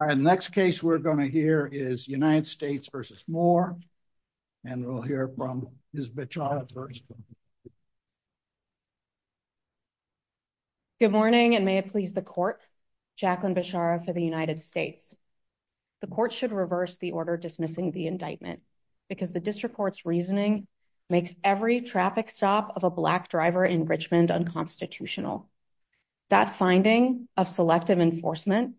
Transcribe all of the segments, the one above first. All right the next case we're going to hear is United States v. Moore and we'll hear from Ms. Bichara first. Good morning and may it please the court, Jacqueline Bichara for the United States. The court should reverse the order dismissing the indictment because the district court's reasoning makes every traffic stop of a black driver in Richmond unconstitutional. That finding of selective enforcement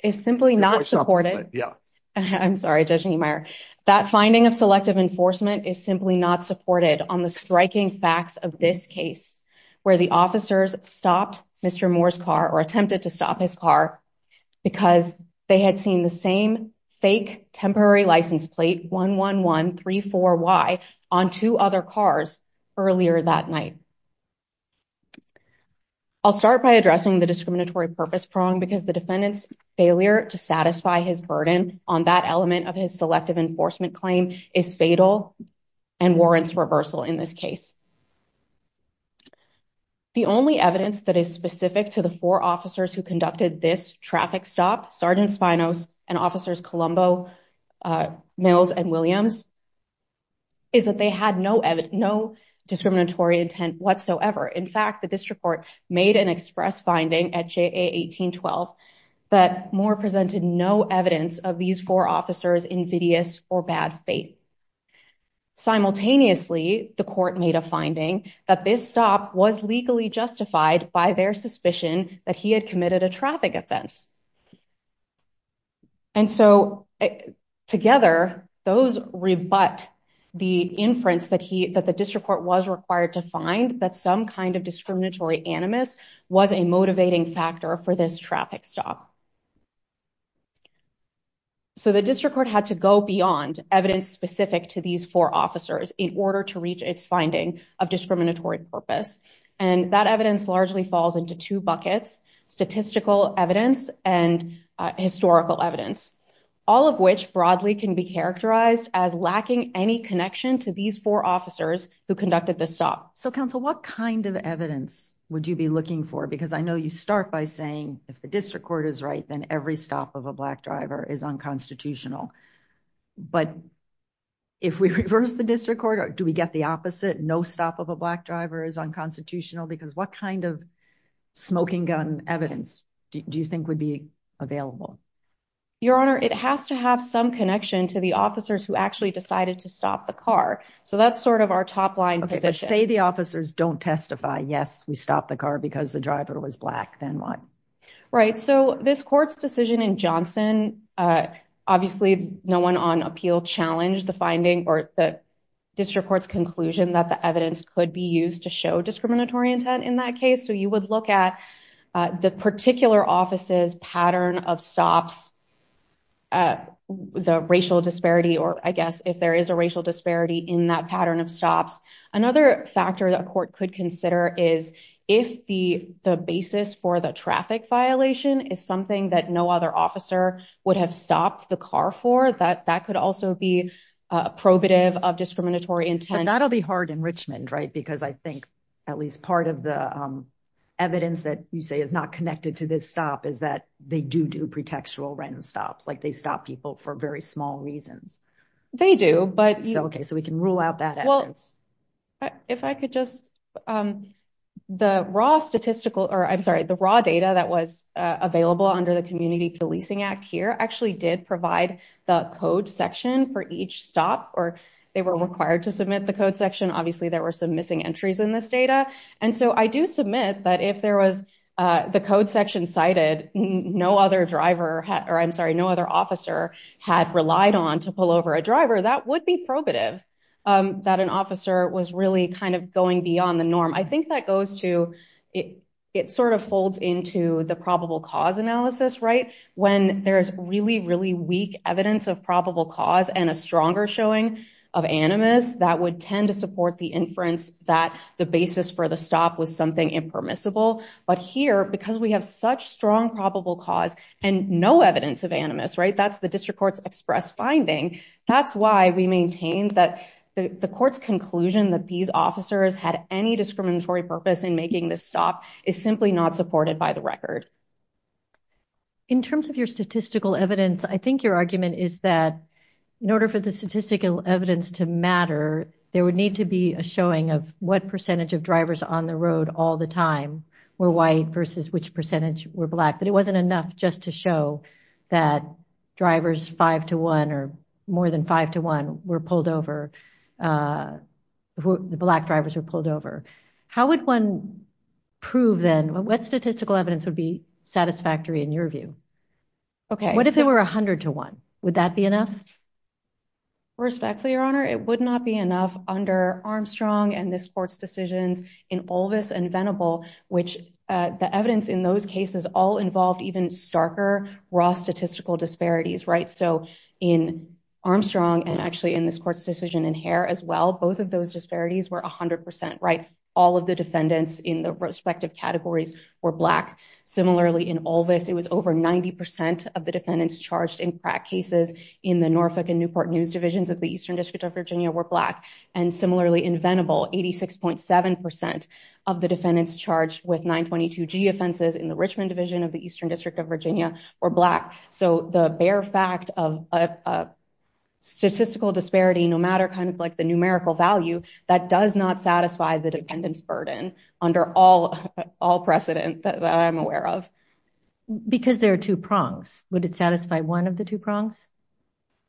is simply not supported. I'm sorry Judge Niemeyer, that finding of selective enforcement is simply not supported on the striking facts of this case where the officers stopped Mr. Moore's car or attempted to stop his car because they had seen the same fake temporary license plate 11134Y on two other cars earlier that night. I'll start by addressing the discriminatory purpose prong because the defendant's failure to satisfy his burden on that element of his selective enforcement claim is fatal and warrants reversal in this case. The only evidence that is specific to the four officers who conducted this traffic stop, Sergeant Spinos and Officers Colombo, Mills and Williams, is that they had no discriminatory intent whatsoever. In fact, the district court made an express finding at JA1812 that Moore presented no evidence of these four officers' invidious or bad faith. Simultaneously, the court made a finding that this stop was legally justified by their suspicion that he had committed a traffic offense. And so together, those rebut the inference that the district court was required to find that some kind of discriminatory animus was a motivating factor for this traffic stop. So the district court had to go beyond evidence specific to these four officers in order to reach its finding of discriminatory purpose. And that evidence largely falls into two buckets, statistical evidence and historical evidence, all of which broadly can be characterized as lacking any connection to these four officers who conducted the stop. So counsel, what kind of evidence would you be looking for? Because I know you start by saying if the district court is right, then every stop of a black driver is unconstitutional. But if we reverse the district court, do we get the opposite? No stop of a black driver is unconstitutional? Because what kind of smoking gun evidence do you think would be available? Your Honor, it has to have some connection to the officers who actually decided to stop the car. So that's sort of our top line position. Say the officers don't testify, yes, we stopped the car because the driver was black, then what? Right. So this court's decision in Johnson, obviously no one on appeal challenged the finding or the district court's conclusion that the evidence could be used to show discriminatory intent in that case. So you would look at the particular office's pattern of stops, the racial disparity, or I guess if there is a racial disparity in that pattern of stops. Another factor that a court could consider is if the basis for the traffic violation is something that no other officer would have stopped the car for, that could also be probative of discriminatory intent. But that'll be hard enrichment, right? Because I think at least part of the evidence that you say is not connected to this stop is that they do do pretextual random stops. They stop people for very small reasons. They do, but- If I could just, the raw statistical, or I'm sorry, the raw data that was available under the Community Policing Act here actually did provide the code section for each stop, or they were required to submit the code section. Obviously there were some missing entries in this data. And so I do submit that if there was the code section cited, no other driver, or I'm sorry, no other officer had relied on to pull over a driver, that would be probative, that an officer was really kind of going beyond the norm. I think that goes to, it sort of folds into the probable cause analysis, right? When there's really, really weak evidence of probable cause and a stronger showing of animus, that would tend to support the inference that the basis for the stop was something impermissible. But here, because we have such strong probable cause and no evidence of animus, right? That's the district court's express finding. That's why we maintained that the court's conclusion that these officers had any discriminatory purpose in making this stop is simply not supported by the record. In terms of your statistical evidence, I think your argument is that in order for the statistical evidence to matter, there would need to be a showing of what percentage of drivers on the all the time were white versus which percentage were black. But it wasn't enough just to show that drivers five to one or more than five to one were pulled over, the black drivers were pulled over. How would one prove then, what statistical evidence would be satisfactory in your view? What if there were 100 to one? Would that be enough? Respectfully, your honor, it would not be enough under Armstrong and this court's decisions in Olvis and Venable, which the evidence in those cases all involved even starker, raw statistical disparities, right? So in Armstrong and actually in this court's decision in Hare as well, both of those disparities were 100%, right? All of the defendants in the respective categories were black. Similarly in Olvis, it was over 90% of the defendants charged in crack cases in the Norfolk and Newport news divisions of the Eastern District of Virginia were black. And similarly in Venable, 86.7% of the defendants charged with 922G offenses in the Richmond division of the Eastern District of Virginia were black. So the bare fact of a statistical disparity, no matter kind of like the numerical value, that does not satisfy the defendant's burden under all precedent that I'm aware of. Because there are two prongs, would it satisfy one of the two prongs?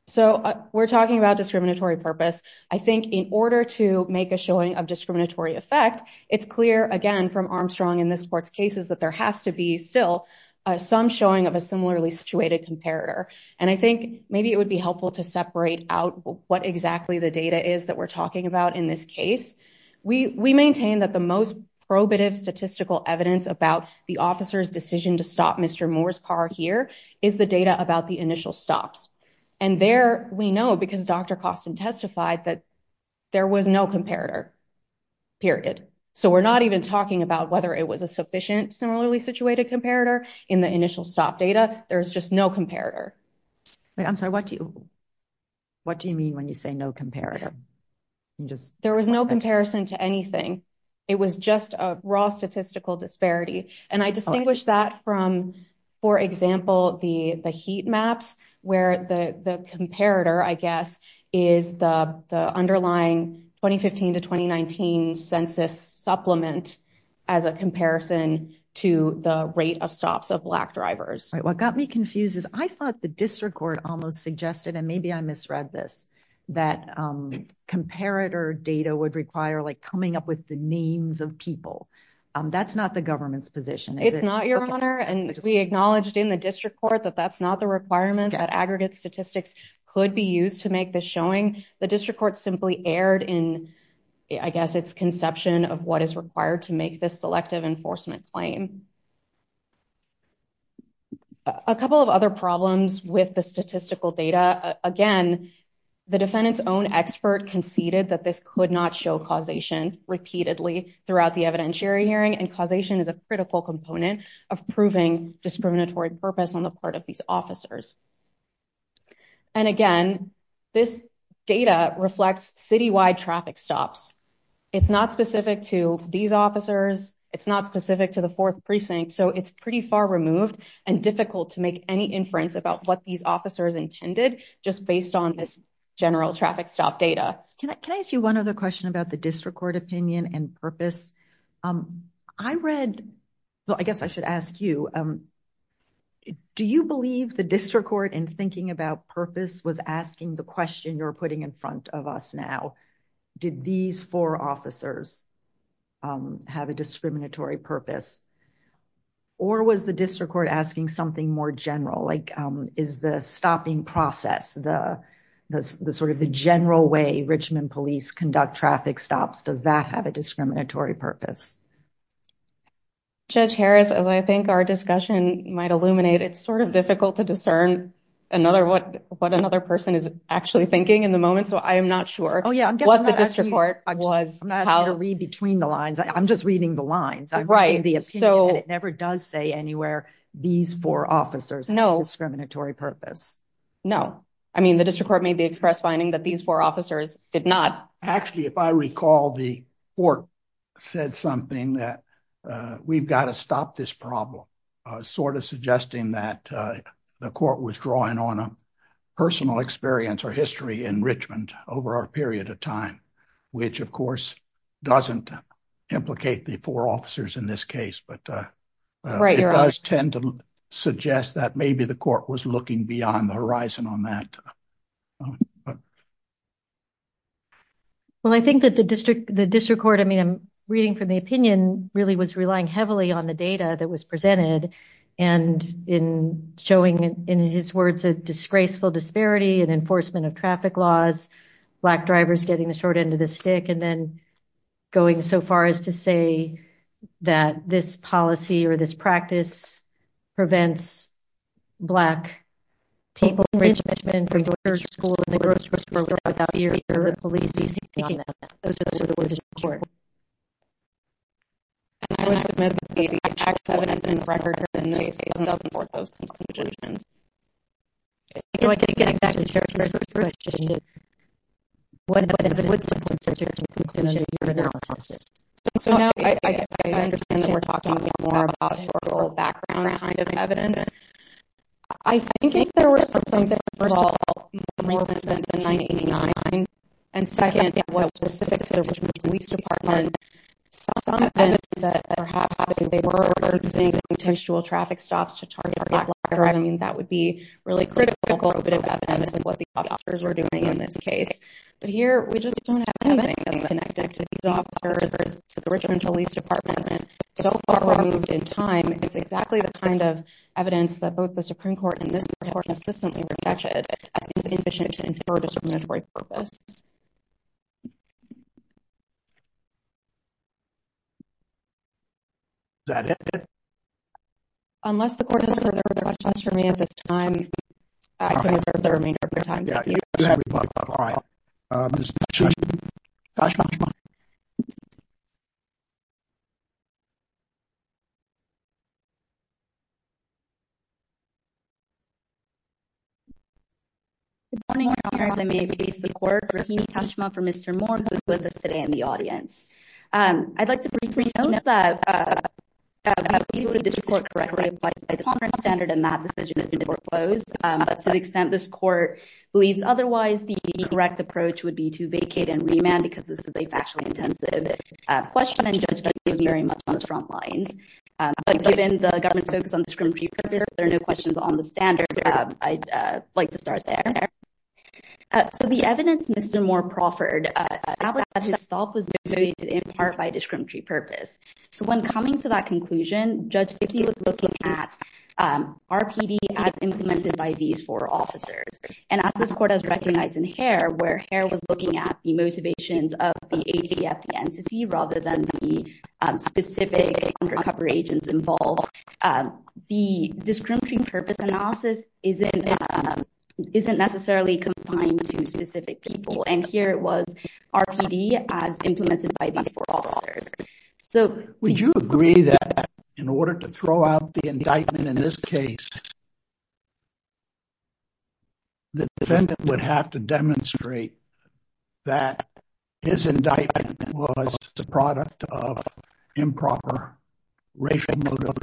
So we're talking about discriminatory purpose. I think in order to make a showing of discriminatory effect, it's clear again from Armstrong in this court's cases that there has to be still some showing of a similarly situated comparator. And I think maybe it would be helpful to separate out what exactly the data is that we're talking about in this case. We maintain that the most probative statistical evidence about the officer's decision to stop Mr. Moore's car here is the data about the initial stops. And there we know, because Dr. Costin testified that there was no comparator, period. So we're not even talking about whether it was a sufficient similarly situated comparator in the initial stop data. There's just no comparator. Wait, I'm sorry, what do you mean when you say no comparator? There was no comparison to anything. It was just a raw statistical disparity. And I distinguish that from, for example, the heat maps, where the comparator, I guess, is the underlying 2015 to 2019 census supplement as a comparison to the rate of stops of black drivers. What got me confused is I thought the district court almost suggested, and maybe I misread this, that comparator data would require like coming up with the names of people. That's not the government's position. It's not, Your Honor. And we acknowledged in the district court that that's not the requirement that aggregate statistics could be used to make this showing. The district court simply erred in, I guess, its conception of what is required to make this selective enforcement claim. A couple of other problems with the statistical data. Again, the defendant's own expert conceded that this could not show causation repeatedly throughout the evidentiary hearing. And causation is a critical component of proving discriminatory purpose on the part of these officers. And again, this data reflects citywide traffic stops. It's not specific to these officers. It's not specific to the fourth precinct. So it's pretty far removed and difficult to make any inference about what these officers intended just based on this general traffic stop data. Can I ask you one other question about the district court opinion and purpose? I read, well, I guess I should ask you, do you believe the district court in thinking about purpose was asking the question you're putting in front of us now? Did these four officers have a discriminatory purpose? Or was the district court asking something more general? Is the stopping process, the general way Richmond police conduct traffic stops, does that have a discriminatory purpose? Judge Harris, as I think our discussion might illuminate, it's sort of difficult to discern what another person is actually thinking in the moment. So I'm not sure what the district court was- I'm not going to read between the lines. I'm just reading the lines. I'm reading the opinion and it never does say anywhere these four officers have a discriminatory purpose. No. No. I mean, the district court made the express finding that these four officers did not- Actually, if I recall, the court said something that we've got to stop this problem, sort of suggesting that the court was drawing on a personal experience or history in Richmond over a period of time, which of course doesn't implicate the four officers in this case. But it does tend to suggest that maybe the court was looking beyond the horizon on that. Well, I think that the district court, I mean, I'm reading from the opinion, really was relying heavily on the data that was presented and in showing, in his words, a disgraceful disparity in enforcement of traffic laws, black drivers getting the short end of the stick, and then going so far as to say that this policy or this practice prevents black people- So now I understand that we're talking more about historical background kind of evidence. I think if there were something, first of all, more recent than 1989, and second, that was specific to the Richmond Police Department, some evidence that perhaps they were using potential traffic stops to target black drivers, I mean, that would be really critical evidence of what the officers were doing in this case. But here, we just don't have anything that's connected to these officers or to the Richmond Police Department. It's so that both the Supreme Court and this court consistently rejected it as insufficient to infer a discriminatory purpose. Is that it? Unless the court has further questions for me at this time, I can reserve the remainder of your time. Good morning, Your Honor, as I may face the court. Rahini Kashma from Mr. Moore who is with us today in the audience. I'd like to briefly note that we believe that this report correctly applies by the common standard, and that decision has been foreclosed, but to the extent this court believes otherwise, the correct approach would be to vacate and remand because this is a factually intensive question, and Judge Kennedy was very much on on the standard. I'd like to start there. So the evidence Mr. Moore proffered itself was in part by discriminatory purpose. So when coming to that conclusion, Judge Kennedy was looking at RPD as implemented by these four officers, and as this court has recognized in Hare, where Hare was looking at the motivations of the ATF entity rather than the specific undercover agents involved, the discriminatory purpose analysis isn't necessarily confined to specific people, and here it was RPD as implemented by these four officers. Would you agree that in order to throw out the indictment in this case, the defendant would have to demonstrate that his indictment was the product of improper racial motive?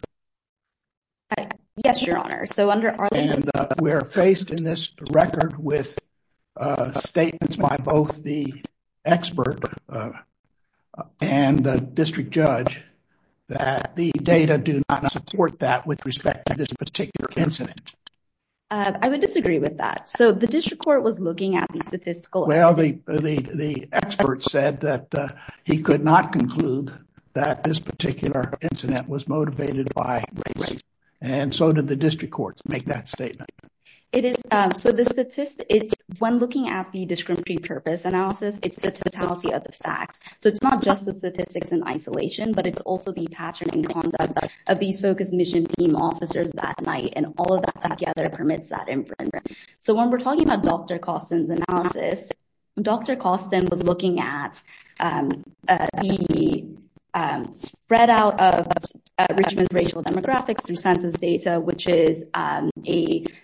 Yes, your honor. So under, and we're faced in this record with statements by both the expert and the district judge that the data do not support that with respect to this particular incident. I would disagree with that. So the district court was looking at the statistical, the expert said that he could not conclude that this particular incident was motivated by race, and so did the district courts make that statement. It is, so the statistics, when looking at the discriminatory purpose analysis, it's the totality of the facts. So it's not just the statistics in isolation, but it's also the pattern and conduct of these focus mission team officers that night, and all of that together permits that inference. So when we're talking about Dr. Koston's analysis, Dr. Koston was looking at the spread out of Richmond's racial demographics through census data, which is a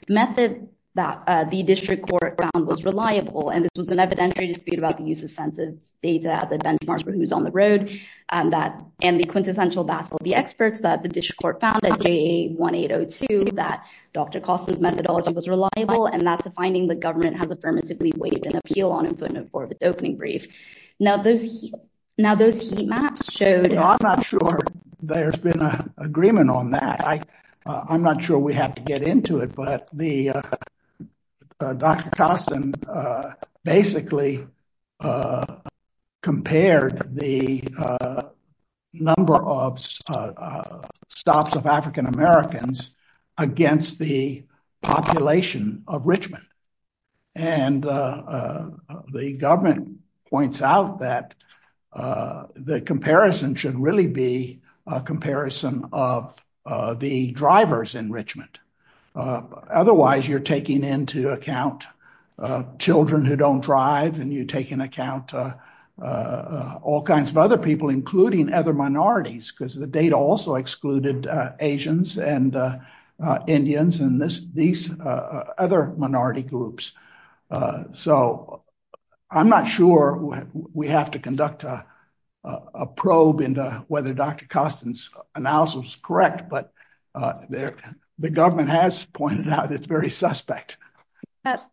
method that the district court found was reliable, and this was an evidentiary dispute about the use of census data as a benchmark for who's on the road, and the quintessential battle of the experts that the district court found at JA1802 that Dr. Koston's methodology was reliable, and that's a finding the government has affirmatively waived an appeal on it for the opening brief. Now those heat maps showed- No, I'm not sure there's been an agreement on that. I'm not sure we have to get into it, but Dr. Koston basically compared the number of stops of African Americans against the population of Richmond, and the government points out that the comparison should really be a comparison of the drivers in Richmond. Otherwise, you're taking into account children who don't drive, and you take into account all kinds of other people, including other minorities, because the data also excluded Asians and Indians and these other minority groups. So I'm not sure we have to conduct a probe into whether Dr. Koston's analysis was correct, but the government has pointed out it's very suspect.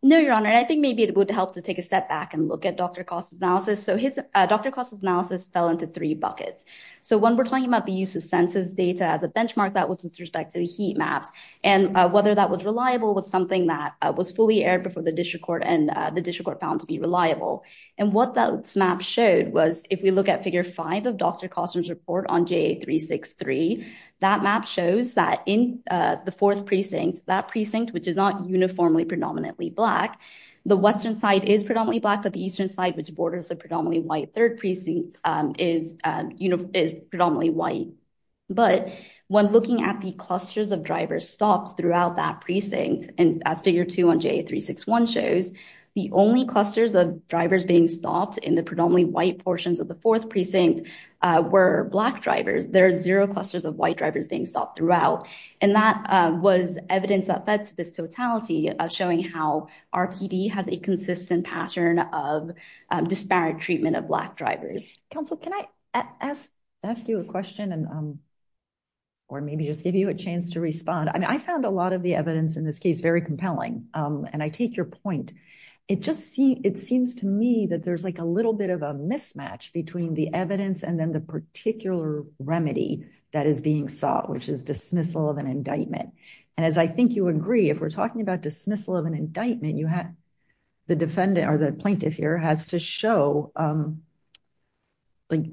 No, Your Honor. I think maybe it would help to take a step back and look at Dr. Koston's analysis. Dr. Koston's analysis fell into three buckets. So when we're talking about the use of census data as a benchmark, that was with respect to the heat maps, and whether that was reliable was something that was fully aired before the district court, and the district court found to be reliable. And what that map showed was if we look at figure five of Dr. Koston's report on JA363, that map shows that in the fourth precinct, that precinct, which is not uniformly predominantly Black, the western side is predominantly Black, but the eastern side, which borders the predominantly White third precinct, is predominantly White. But when looking at the clusters of drivers stopped throughout that precinct, and as figure two on JA361 shows, the only clusters of drivers being stopped in the predominantly White portions of the fourth precinct were Black drivers. There are zero clusters of White drivers being stopped throughout, and that was evidence that fed to this Council, can I ask you a question, or maybe just give you a chance to respond? I mean, I found a lot of the evidence in this case very compelling. And I take your point. It just seems to me that there's like a little bit of a mismatch between the evidence and then the particular remedy that is being sought, which is dismissal of an indictment. And as I think you agree, if we're talking about dismissal of an indictment, you have the defendant or the plaintiff here has to show, like,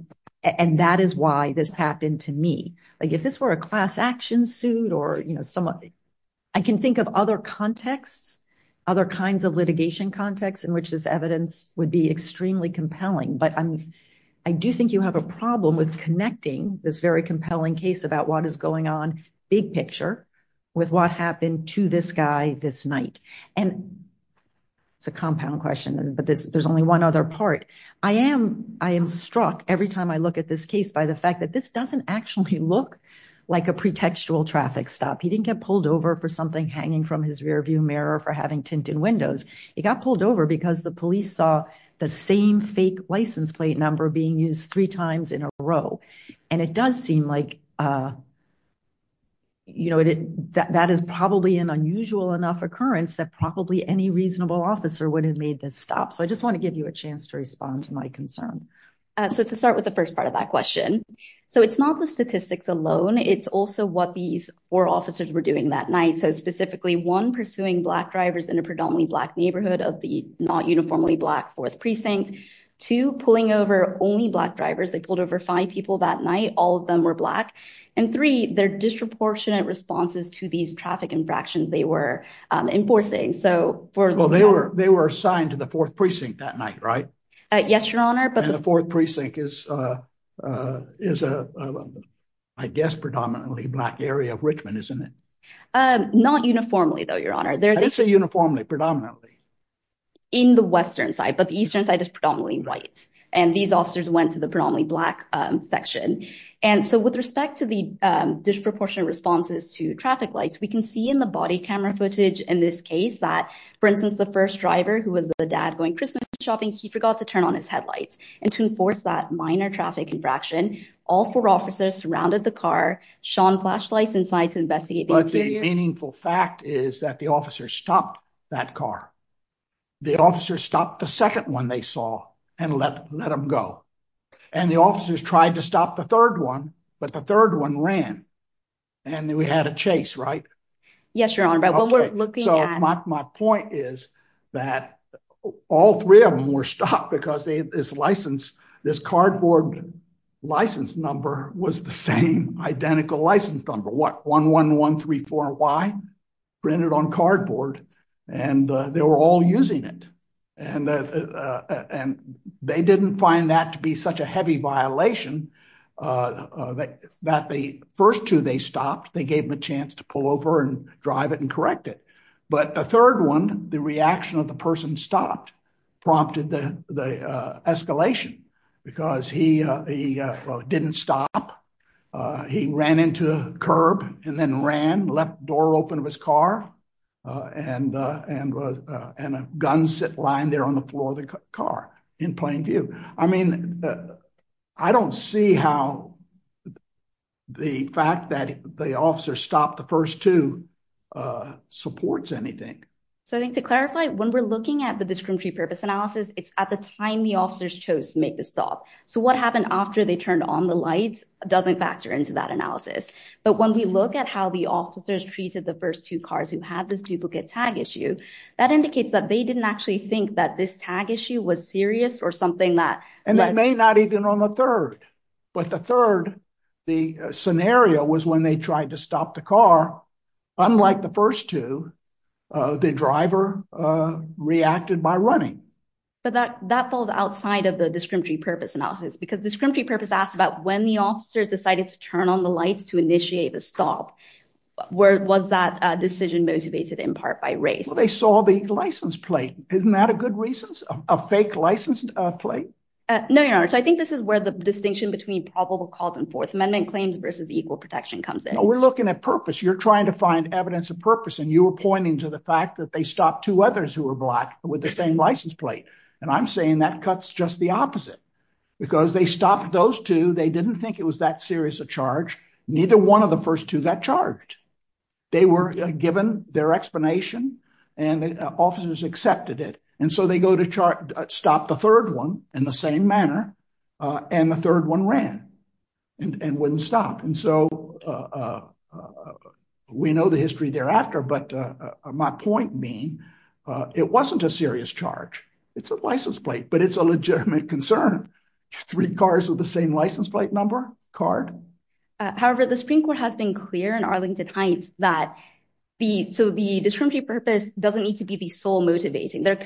and that is why this happened to me. Like, if this were a class action suit, or, you know, someone, I can think of other contexts, other kinds of litigation contexts in which this evidence would be extremely compelling. But I do think you have a problem with connecting this very compelling case about what is going on, big picture, with what happened to this guy this night? And it's a compound question, but there's only one other part. I am struck every time I look at this case by the fact that this doesn't actually look like a pretextual traffic stop. He didn't get pulled over for something hanging from his rear view mirror for having tinted windows. He got pulled over because the police saw the same fake license plate number being used three times in a row. And it does seem like, you know, that is probably an unusual enough occurrence that probably any reasonable officer would have made this stop. So I just want to give you a chance to respond to my concern. So to start with the first part of that question. So it's not the statistics alone. It's also what these four officers were doing that night. So specifically one pursuing black drivers in a predominantly black neighborhood of the not uniformly black fourth precinct to pulling over only black drivers, they pulled over five people that night, all of them were black. And three, they're disproportionate responses to these traffic infractions they were enforcing. So for well, they were they were assigned to the fourth precinct that night, right? Yes, your honor. But the fourth precinct is, is a, I guess, predominantly black area of Richmond, isn't it? Not uniformly, though, your honor, there's a uniformly predominantly in the western side, but the eastern side is predominantly white. And these officers went to the predominantly black section. And so with respect to the disproportionate responses to traffic lights, we can see in the body camera footage in this case that, for instance, the first driver who was the dad going Christmas shopping, he forgot to turn on his headlights. And to enforce that minor traffic infraction, all four officers surrounded the car, shone flashlights inside to investigate. But the meaningful fact is that the officer stopped that car. The officer stopped the second one they saw and let them go. And the officers tried to stop the third one. But the third one ran. And then we had a chase, right? Yes, your honor. But what we're looking at my point is that all three of them were stopped because they this license, this cardboard license number was the same identical license number what 11134Y printed on cardboard. And they were all using it. And they didn't find that to be such a heavy violation that the first two they stopped, they gave him a chance to pull over and drive it and correct it. But the third one, the reaction of the person stopped, prompted the escalation, because he didn't stop. He ran into curb and then ran left door open of his car. And, and, and a gun sit lying there on the floor of the car in plain view. I mean, I don't see how the fact that the officer stopped the first two supports anything. So I think to clarify, when we're looking at the discriminatory purpose analysis, it's at the time the officers chose to make the stop. So what happened after they turned on the lights doesn't factor into that analysis. But when we look at how the officers treated the first two cars who had this duplicate tag issue, that indicates that they didn't actually think that this tag issue was serious or something that and that may not even on the third. But the third, the scenario was when they tried to stop the car. Unlike the first two, the driver reacted by But that that falls outside of the discriminatory purpose analysis, because discriminatory purpose asked about when the officers decided to turn on the lights to initiate the stop. Where was that decision motivated in part by race? They saw the license plate. Isn't that a good reasons of a fake license plate? No, your honor. So I think this is where the distinction between probable cause and fourth amendment claims versus equal protection comes in. We're looking at purpose, you're trying to find evidence of purpose. And you were pointing to fact that they stopped two others who were black with the same license plate. And I'm saying that cuts just the opposite. Because they stopped those two, they didn't think it was that serious a charge. Neither one of the first two got charged. They were given their explanation, and the officers accepted it. And so they go to chart, stop the third one in the same manner. And the point being, it wasn't a serious charge. It's a license plate, but it's a legitimate concern. Three cars with the same license plate number card. However, the Supreme Court has been clear in Arlington Heights that the so the discriminatory purpose doesn't need to be the sole motivating their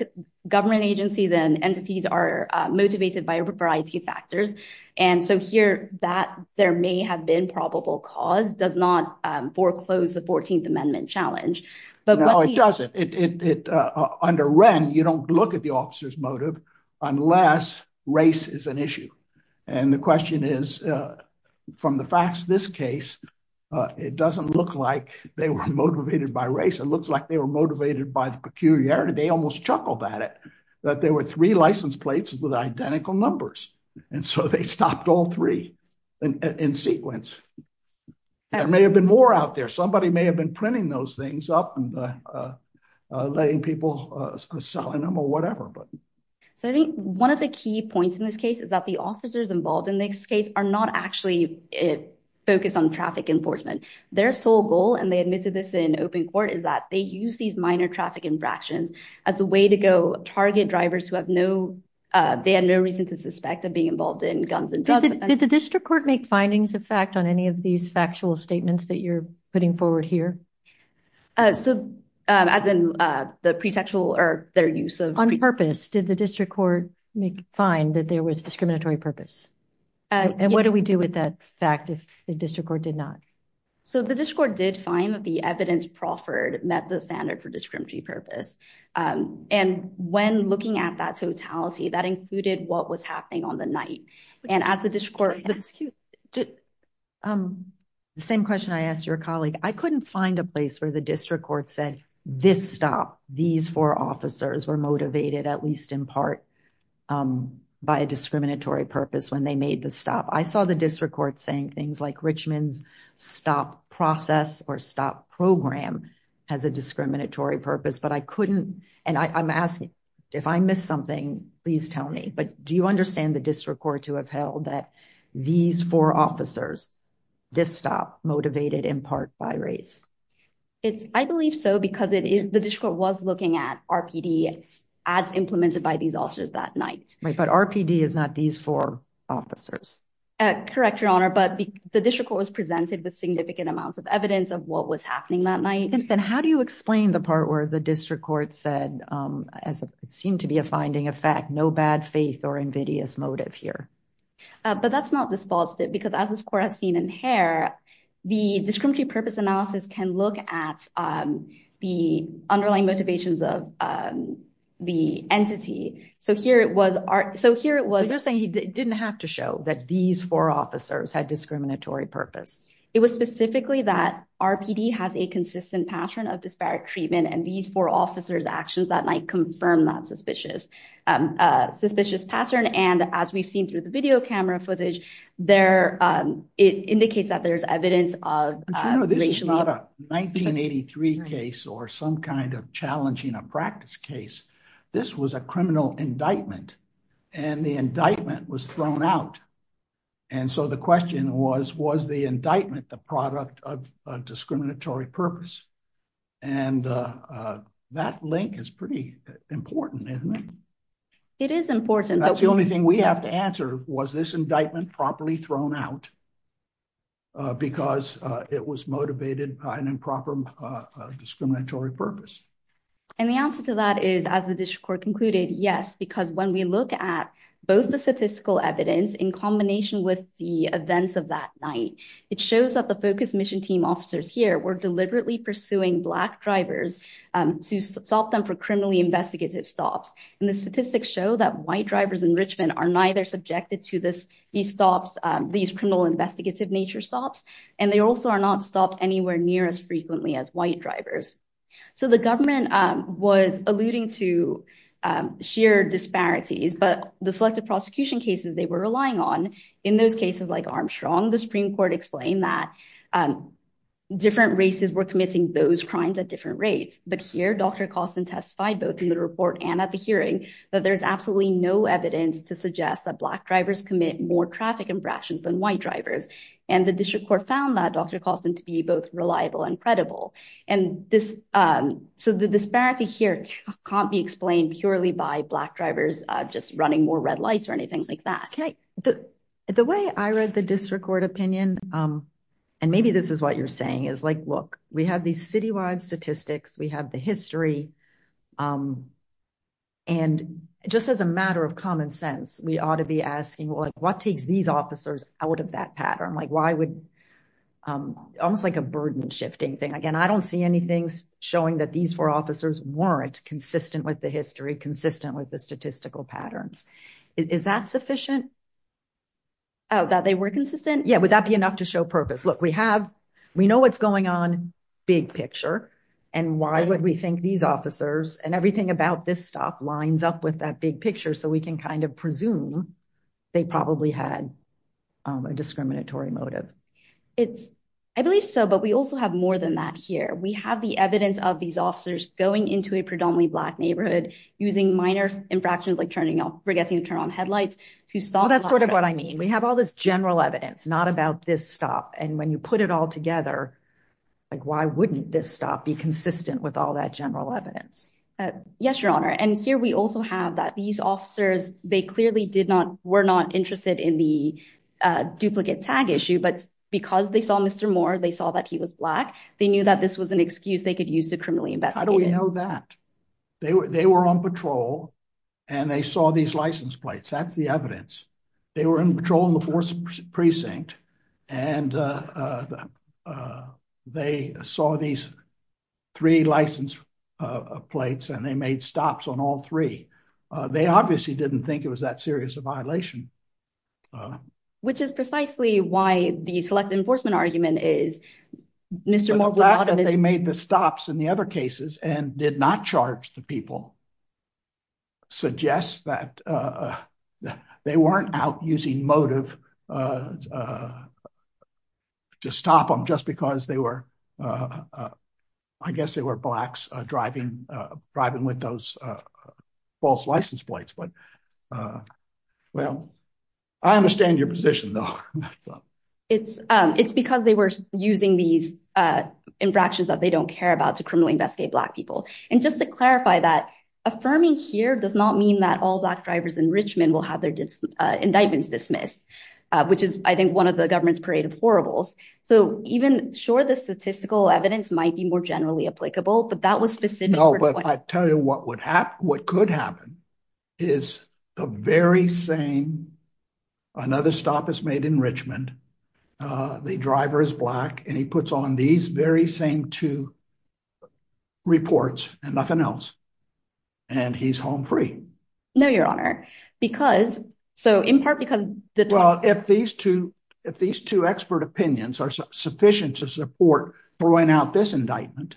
government agencies and entities are motivated by a variety of factors. And so here that there may have been probable cause does not foreclose the 14th Amendment challenge. But it doesn't it under Ren, you don't look at the officer's motive, unless race is an issue. And the question is, from the facts, this case, it doesn't look like they were motivated by race, it looks like they were motivated by the peculiarity, they almost chuckled at it, that there were three license plates with identical numbers. And so they stopped all three in sequence. There may have been more out there, somebody may have been printing those things up and letting people sell them or whatever. But so I think one of the key points in this case is that the officers involved in this case are not actually focused on traffic enforcement, their sole goal, and they admitted this in open court is that they use these minor traffic infractions as a way to go target drivers who have no, they had no reason to suspect of being involved in guns and drugs. Did the district court make findings of fact on any of these factual statements that you're putting forward here? So as in the pretextual or their use of... On purpose, did the district court make, find that there was discriminatory purpose? And what do we do with that fact if the district court did not? So the district court did find that the evidence proffered met the standard for discriminatory purpose. And when looking at totality, that included what was happening on the night. And as the district court... The same question I asked your colleague, I couldn't find a place where the district court said this stop, these four officers were motivated at least in part by a discriminatory purpose when they made the stop. I saw the district court saying things like Richmond's stop process or program has a discriminatory purpose, but I couldn't... And I'm asking, if I missed something, please tell me, but do you understand the district court to have held that these four officers, this stop motivated in part by race? I believe so because the district court was looking at RPD as implemented by these officers that night. Right, but RPD is not these four officers. Correct, Your Honor, but the district court was presented with significant amounts of evidence of what was happening that night. And how do you explain the part where the district court said, as it seemed to be a finding of fact, no bad faith or invidious motive here? But that's not this false tip because as this court has seen in Hare, the discriminatory purpose analysis can look at the underlying motivations of the entity. So here it was... They're saying it didn't have to show that these four officers had discriminatory purpose. It was specifically that RPD has a consistent pattern of disparate treatment and these four officers' actions that night confirm that suspicious pattern. And as we've seen through the video camera footage, it indicates that there's evidence of racial... No, this is not a 1983 case or some kind of challenging a practice case. This was a criminal indictment and the indictment was thrown out. And so the question was, was the indictment the product of a discriminatory purpose? And that link is pretty important, isn't it? It is important. That's the only thing we have to answer. Was this indictment properly thrown out because it was motivated by an improper discriminatory purpose? And the answer to that is, as the district court concluded, yes, because when we look at both the statistical evidence in combination with the events of that night, it shows that the focus mission team officers here were deliberately pursuing black drivers to stop them for criminally investigative stops. And the statistics show that white drivers in Richmond are neither subjected to these stops, these criminal investigative nature stops, and they also are not stopped anywhere near as frequently as white drivers. So the government was alluding to sheer disparities, but the selective prosecution cases they were relying on, in those cases like Armstrong, the Supreme Court explained that different races were committing those crimes at different rates. But here, Dr. Costin testified, both in the report and at the hearing, that there's absolutely no evidence to suggest that black drivers commit more traffic infractions than white drivers. And the district court found that, Dr. Costin, to be both reliable and credible. And so the disparity here can't be explained purely by black drivers just running more red lights or anything like that. The way I read the district court opinion, and maybe this is what you're saying, is like, look, we have these citywide statistics, we have the history, and just as a matter of common sense, we ought to be asking, well, what takes these officers out of that pattern? Almost like a burden shifting thing. Again, I don't see anything showing that these four officers weren't consistent with the history, consistent with the statistical patterns. Is that sufficient? Oh, that they were consistent? Yeah, would that be enough to show purpose? Look, we know what's going on, big picture, and why would we think these officers and everything about this stop lines up with that big picture so we can kind of assume they probably had a discriminatory motive? I believe so, but we also have more than that here. We have the evidence of these officers going into a predominantly black neighborhood using minor infractions, like forgetting to turn on headlights. Well, that's sort of what I mean. We have all this general evidence, not about this stop. And when you put it all together, why wouldn't this stop be consistent with all that general evidence? Yes, Your Honor. And here we also have that these officers, they clearly were not interested in the duplicate tag issue, but because they saw Mr. Moore, they saw that he was black, they knew that this was an excuse they could use to criminally investigate. How do we know that? They were on patrol, and they saw these license plates. That's the evidence. They were on patrol in the 4th Precinct, and they saw these three license plates, and they made stops on all three. They obviously didn't think it was that serious a violation. Which is precisely why the select enforcement argument is Mr. Moore was black. The fact that they made the stops in the other cases and did not charge the people suggests that they weren't out using motive to stop them just because they were, I guess they were blacks driving with those false license plates. But, well, I understand your position though. It's because they were using these infractions that they don't care about to criminally black people. Just to clarify that, affirming here does not mean that all black drivers in Richmond will have their indictments dismissed, which is, I think, one of the government's parade of horribles. So, even sure the statistical evidence might be more generally applicable, but that was specific. No, but I tell you what could happen is the very same, another stop is made in Richmond, the driver is black, and he puts on these very same two reports and nothing else. And he's home free. No, your honor, because, so in part because the, well, if these two, if these two expert opinions are sufficient to support throwing out this indictment,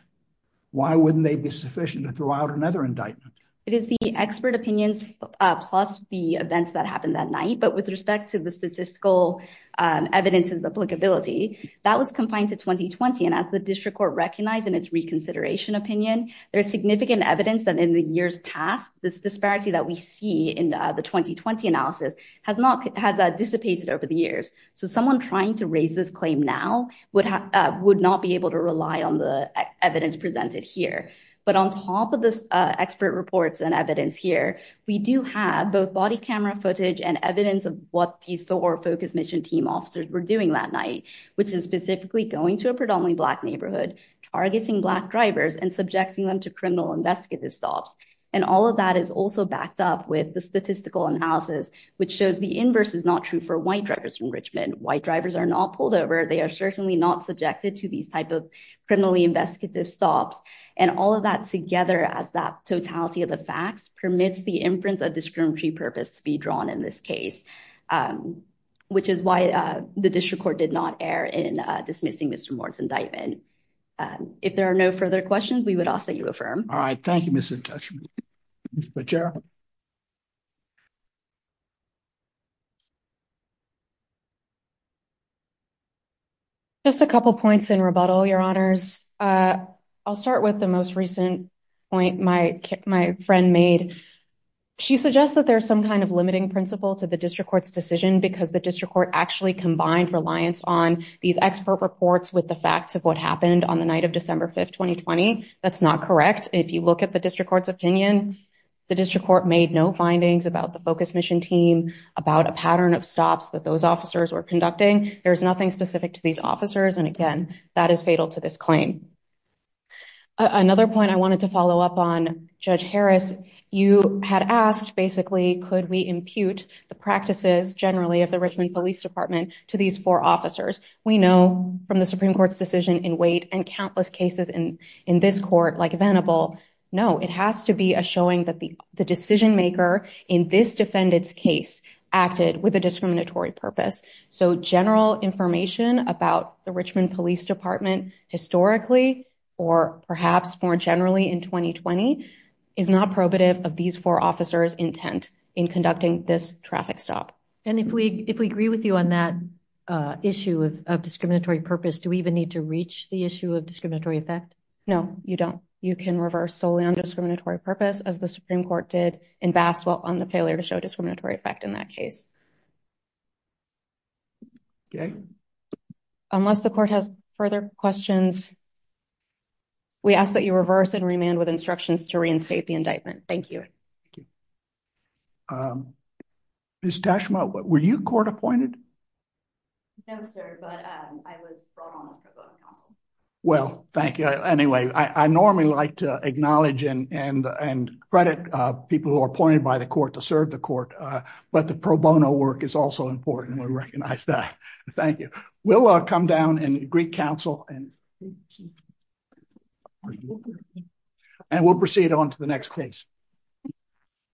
why wouldn't they be sufficient to throw out another indictment? It is the expert opinions plus the events that happened that night. But with respect to the statistical evidence's applicability, that was confined to 2020. And as the district court recognized in its reconsideration opinion, there is significant evidence that in the years past, this disparity that we see in the 2020 analysis has not, has dissipated over the years. So, someone trying to raise this claim now would not be able to rely on the evidence presented here. But on top of this expert reports and evidence here, we do have both body camera footage and evidence of what these four focus mission team officers were doing that night, which is going to a predominantly black neighborhood, targeting black drivers and subjecting them to criminal investigative stops. And all of that is also backed up with the statistical analysis, which shows the inverse is not true for white drivers from Richmond. White drivers are not pulled over. They are certainly not subjected to these type of criminally investigative stops. And all of that together as that totality of the facts permits the inference of discriminatory purpose be drawn in this case, which is why the district court did not err in dismissing Mr. Moore's indictment. If there are no further questions, we would ask that you affirm. All right. Thank you, Mrs. Judge. Just a couple points in rebuttal, your honors. I'll start with the most recent point my friend made. She suggests that there's some kind of limiting principle to the district court's decision because the district court actually combined reliance on these expert reports with the facts of what happened on the night of December 5th, 2020. That's not correct. If you look at the district court's opinion, the district court made no findings about the focus mission team, about a pattern of stops that those officers were conducting. There's nothing specific to these officers. And again, that is fatal to this claim. Another point I wanted to follow up on, Judge Harris, you had asked basically, could we impute the practices generally of the Richmond Police Department to these four officers? We know from the Supreme Court's decision in weight and countless cases in this court like Venable, no, it has to be a showing that the decision maker in this defendant's case acted with a discriminatory purpose. So general information about the Richmond Police Department historically, or perhaps more generally in 2020, is not probative of these four officers' intent in conducting this traffic stop. And if we agree with you on that issue of discriminatory purpose, do we even need to reach the issue of discriminatory effect? No, you don't. You can reverse solely on discriminatory purpose as the Supreme Court did in Basswell on the failure to show discriminatory effect in that case. Okay. Unless the court has further questions, we ask that you reverse and remand with instructions to reinstate the indictment. Thank you. Thank you. Ms. Tashma, were you court appointed? No, sir, but I was brought on as pro bono counsel. Well, thank you. Anyway, I normally like to acknowledge and credit people who are appointed by the court to serve the court. But the pro bono work is also important. We recognize that. Thank you. We'll come down and greet counsel. And we'll proceed on to the next case.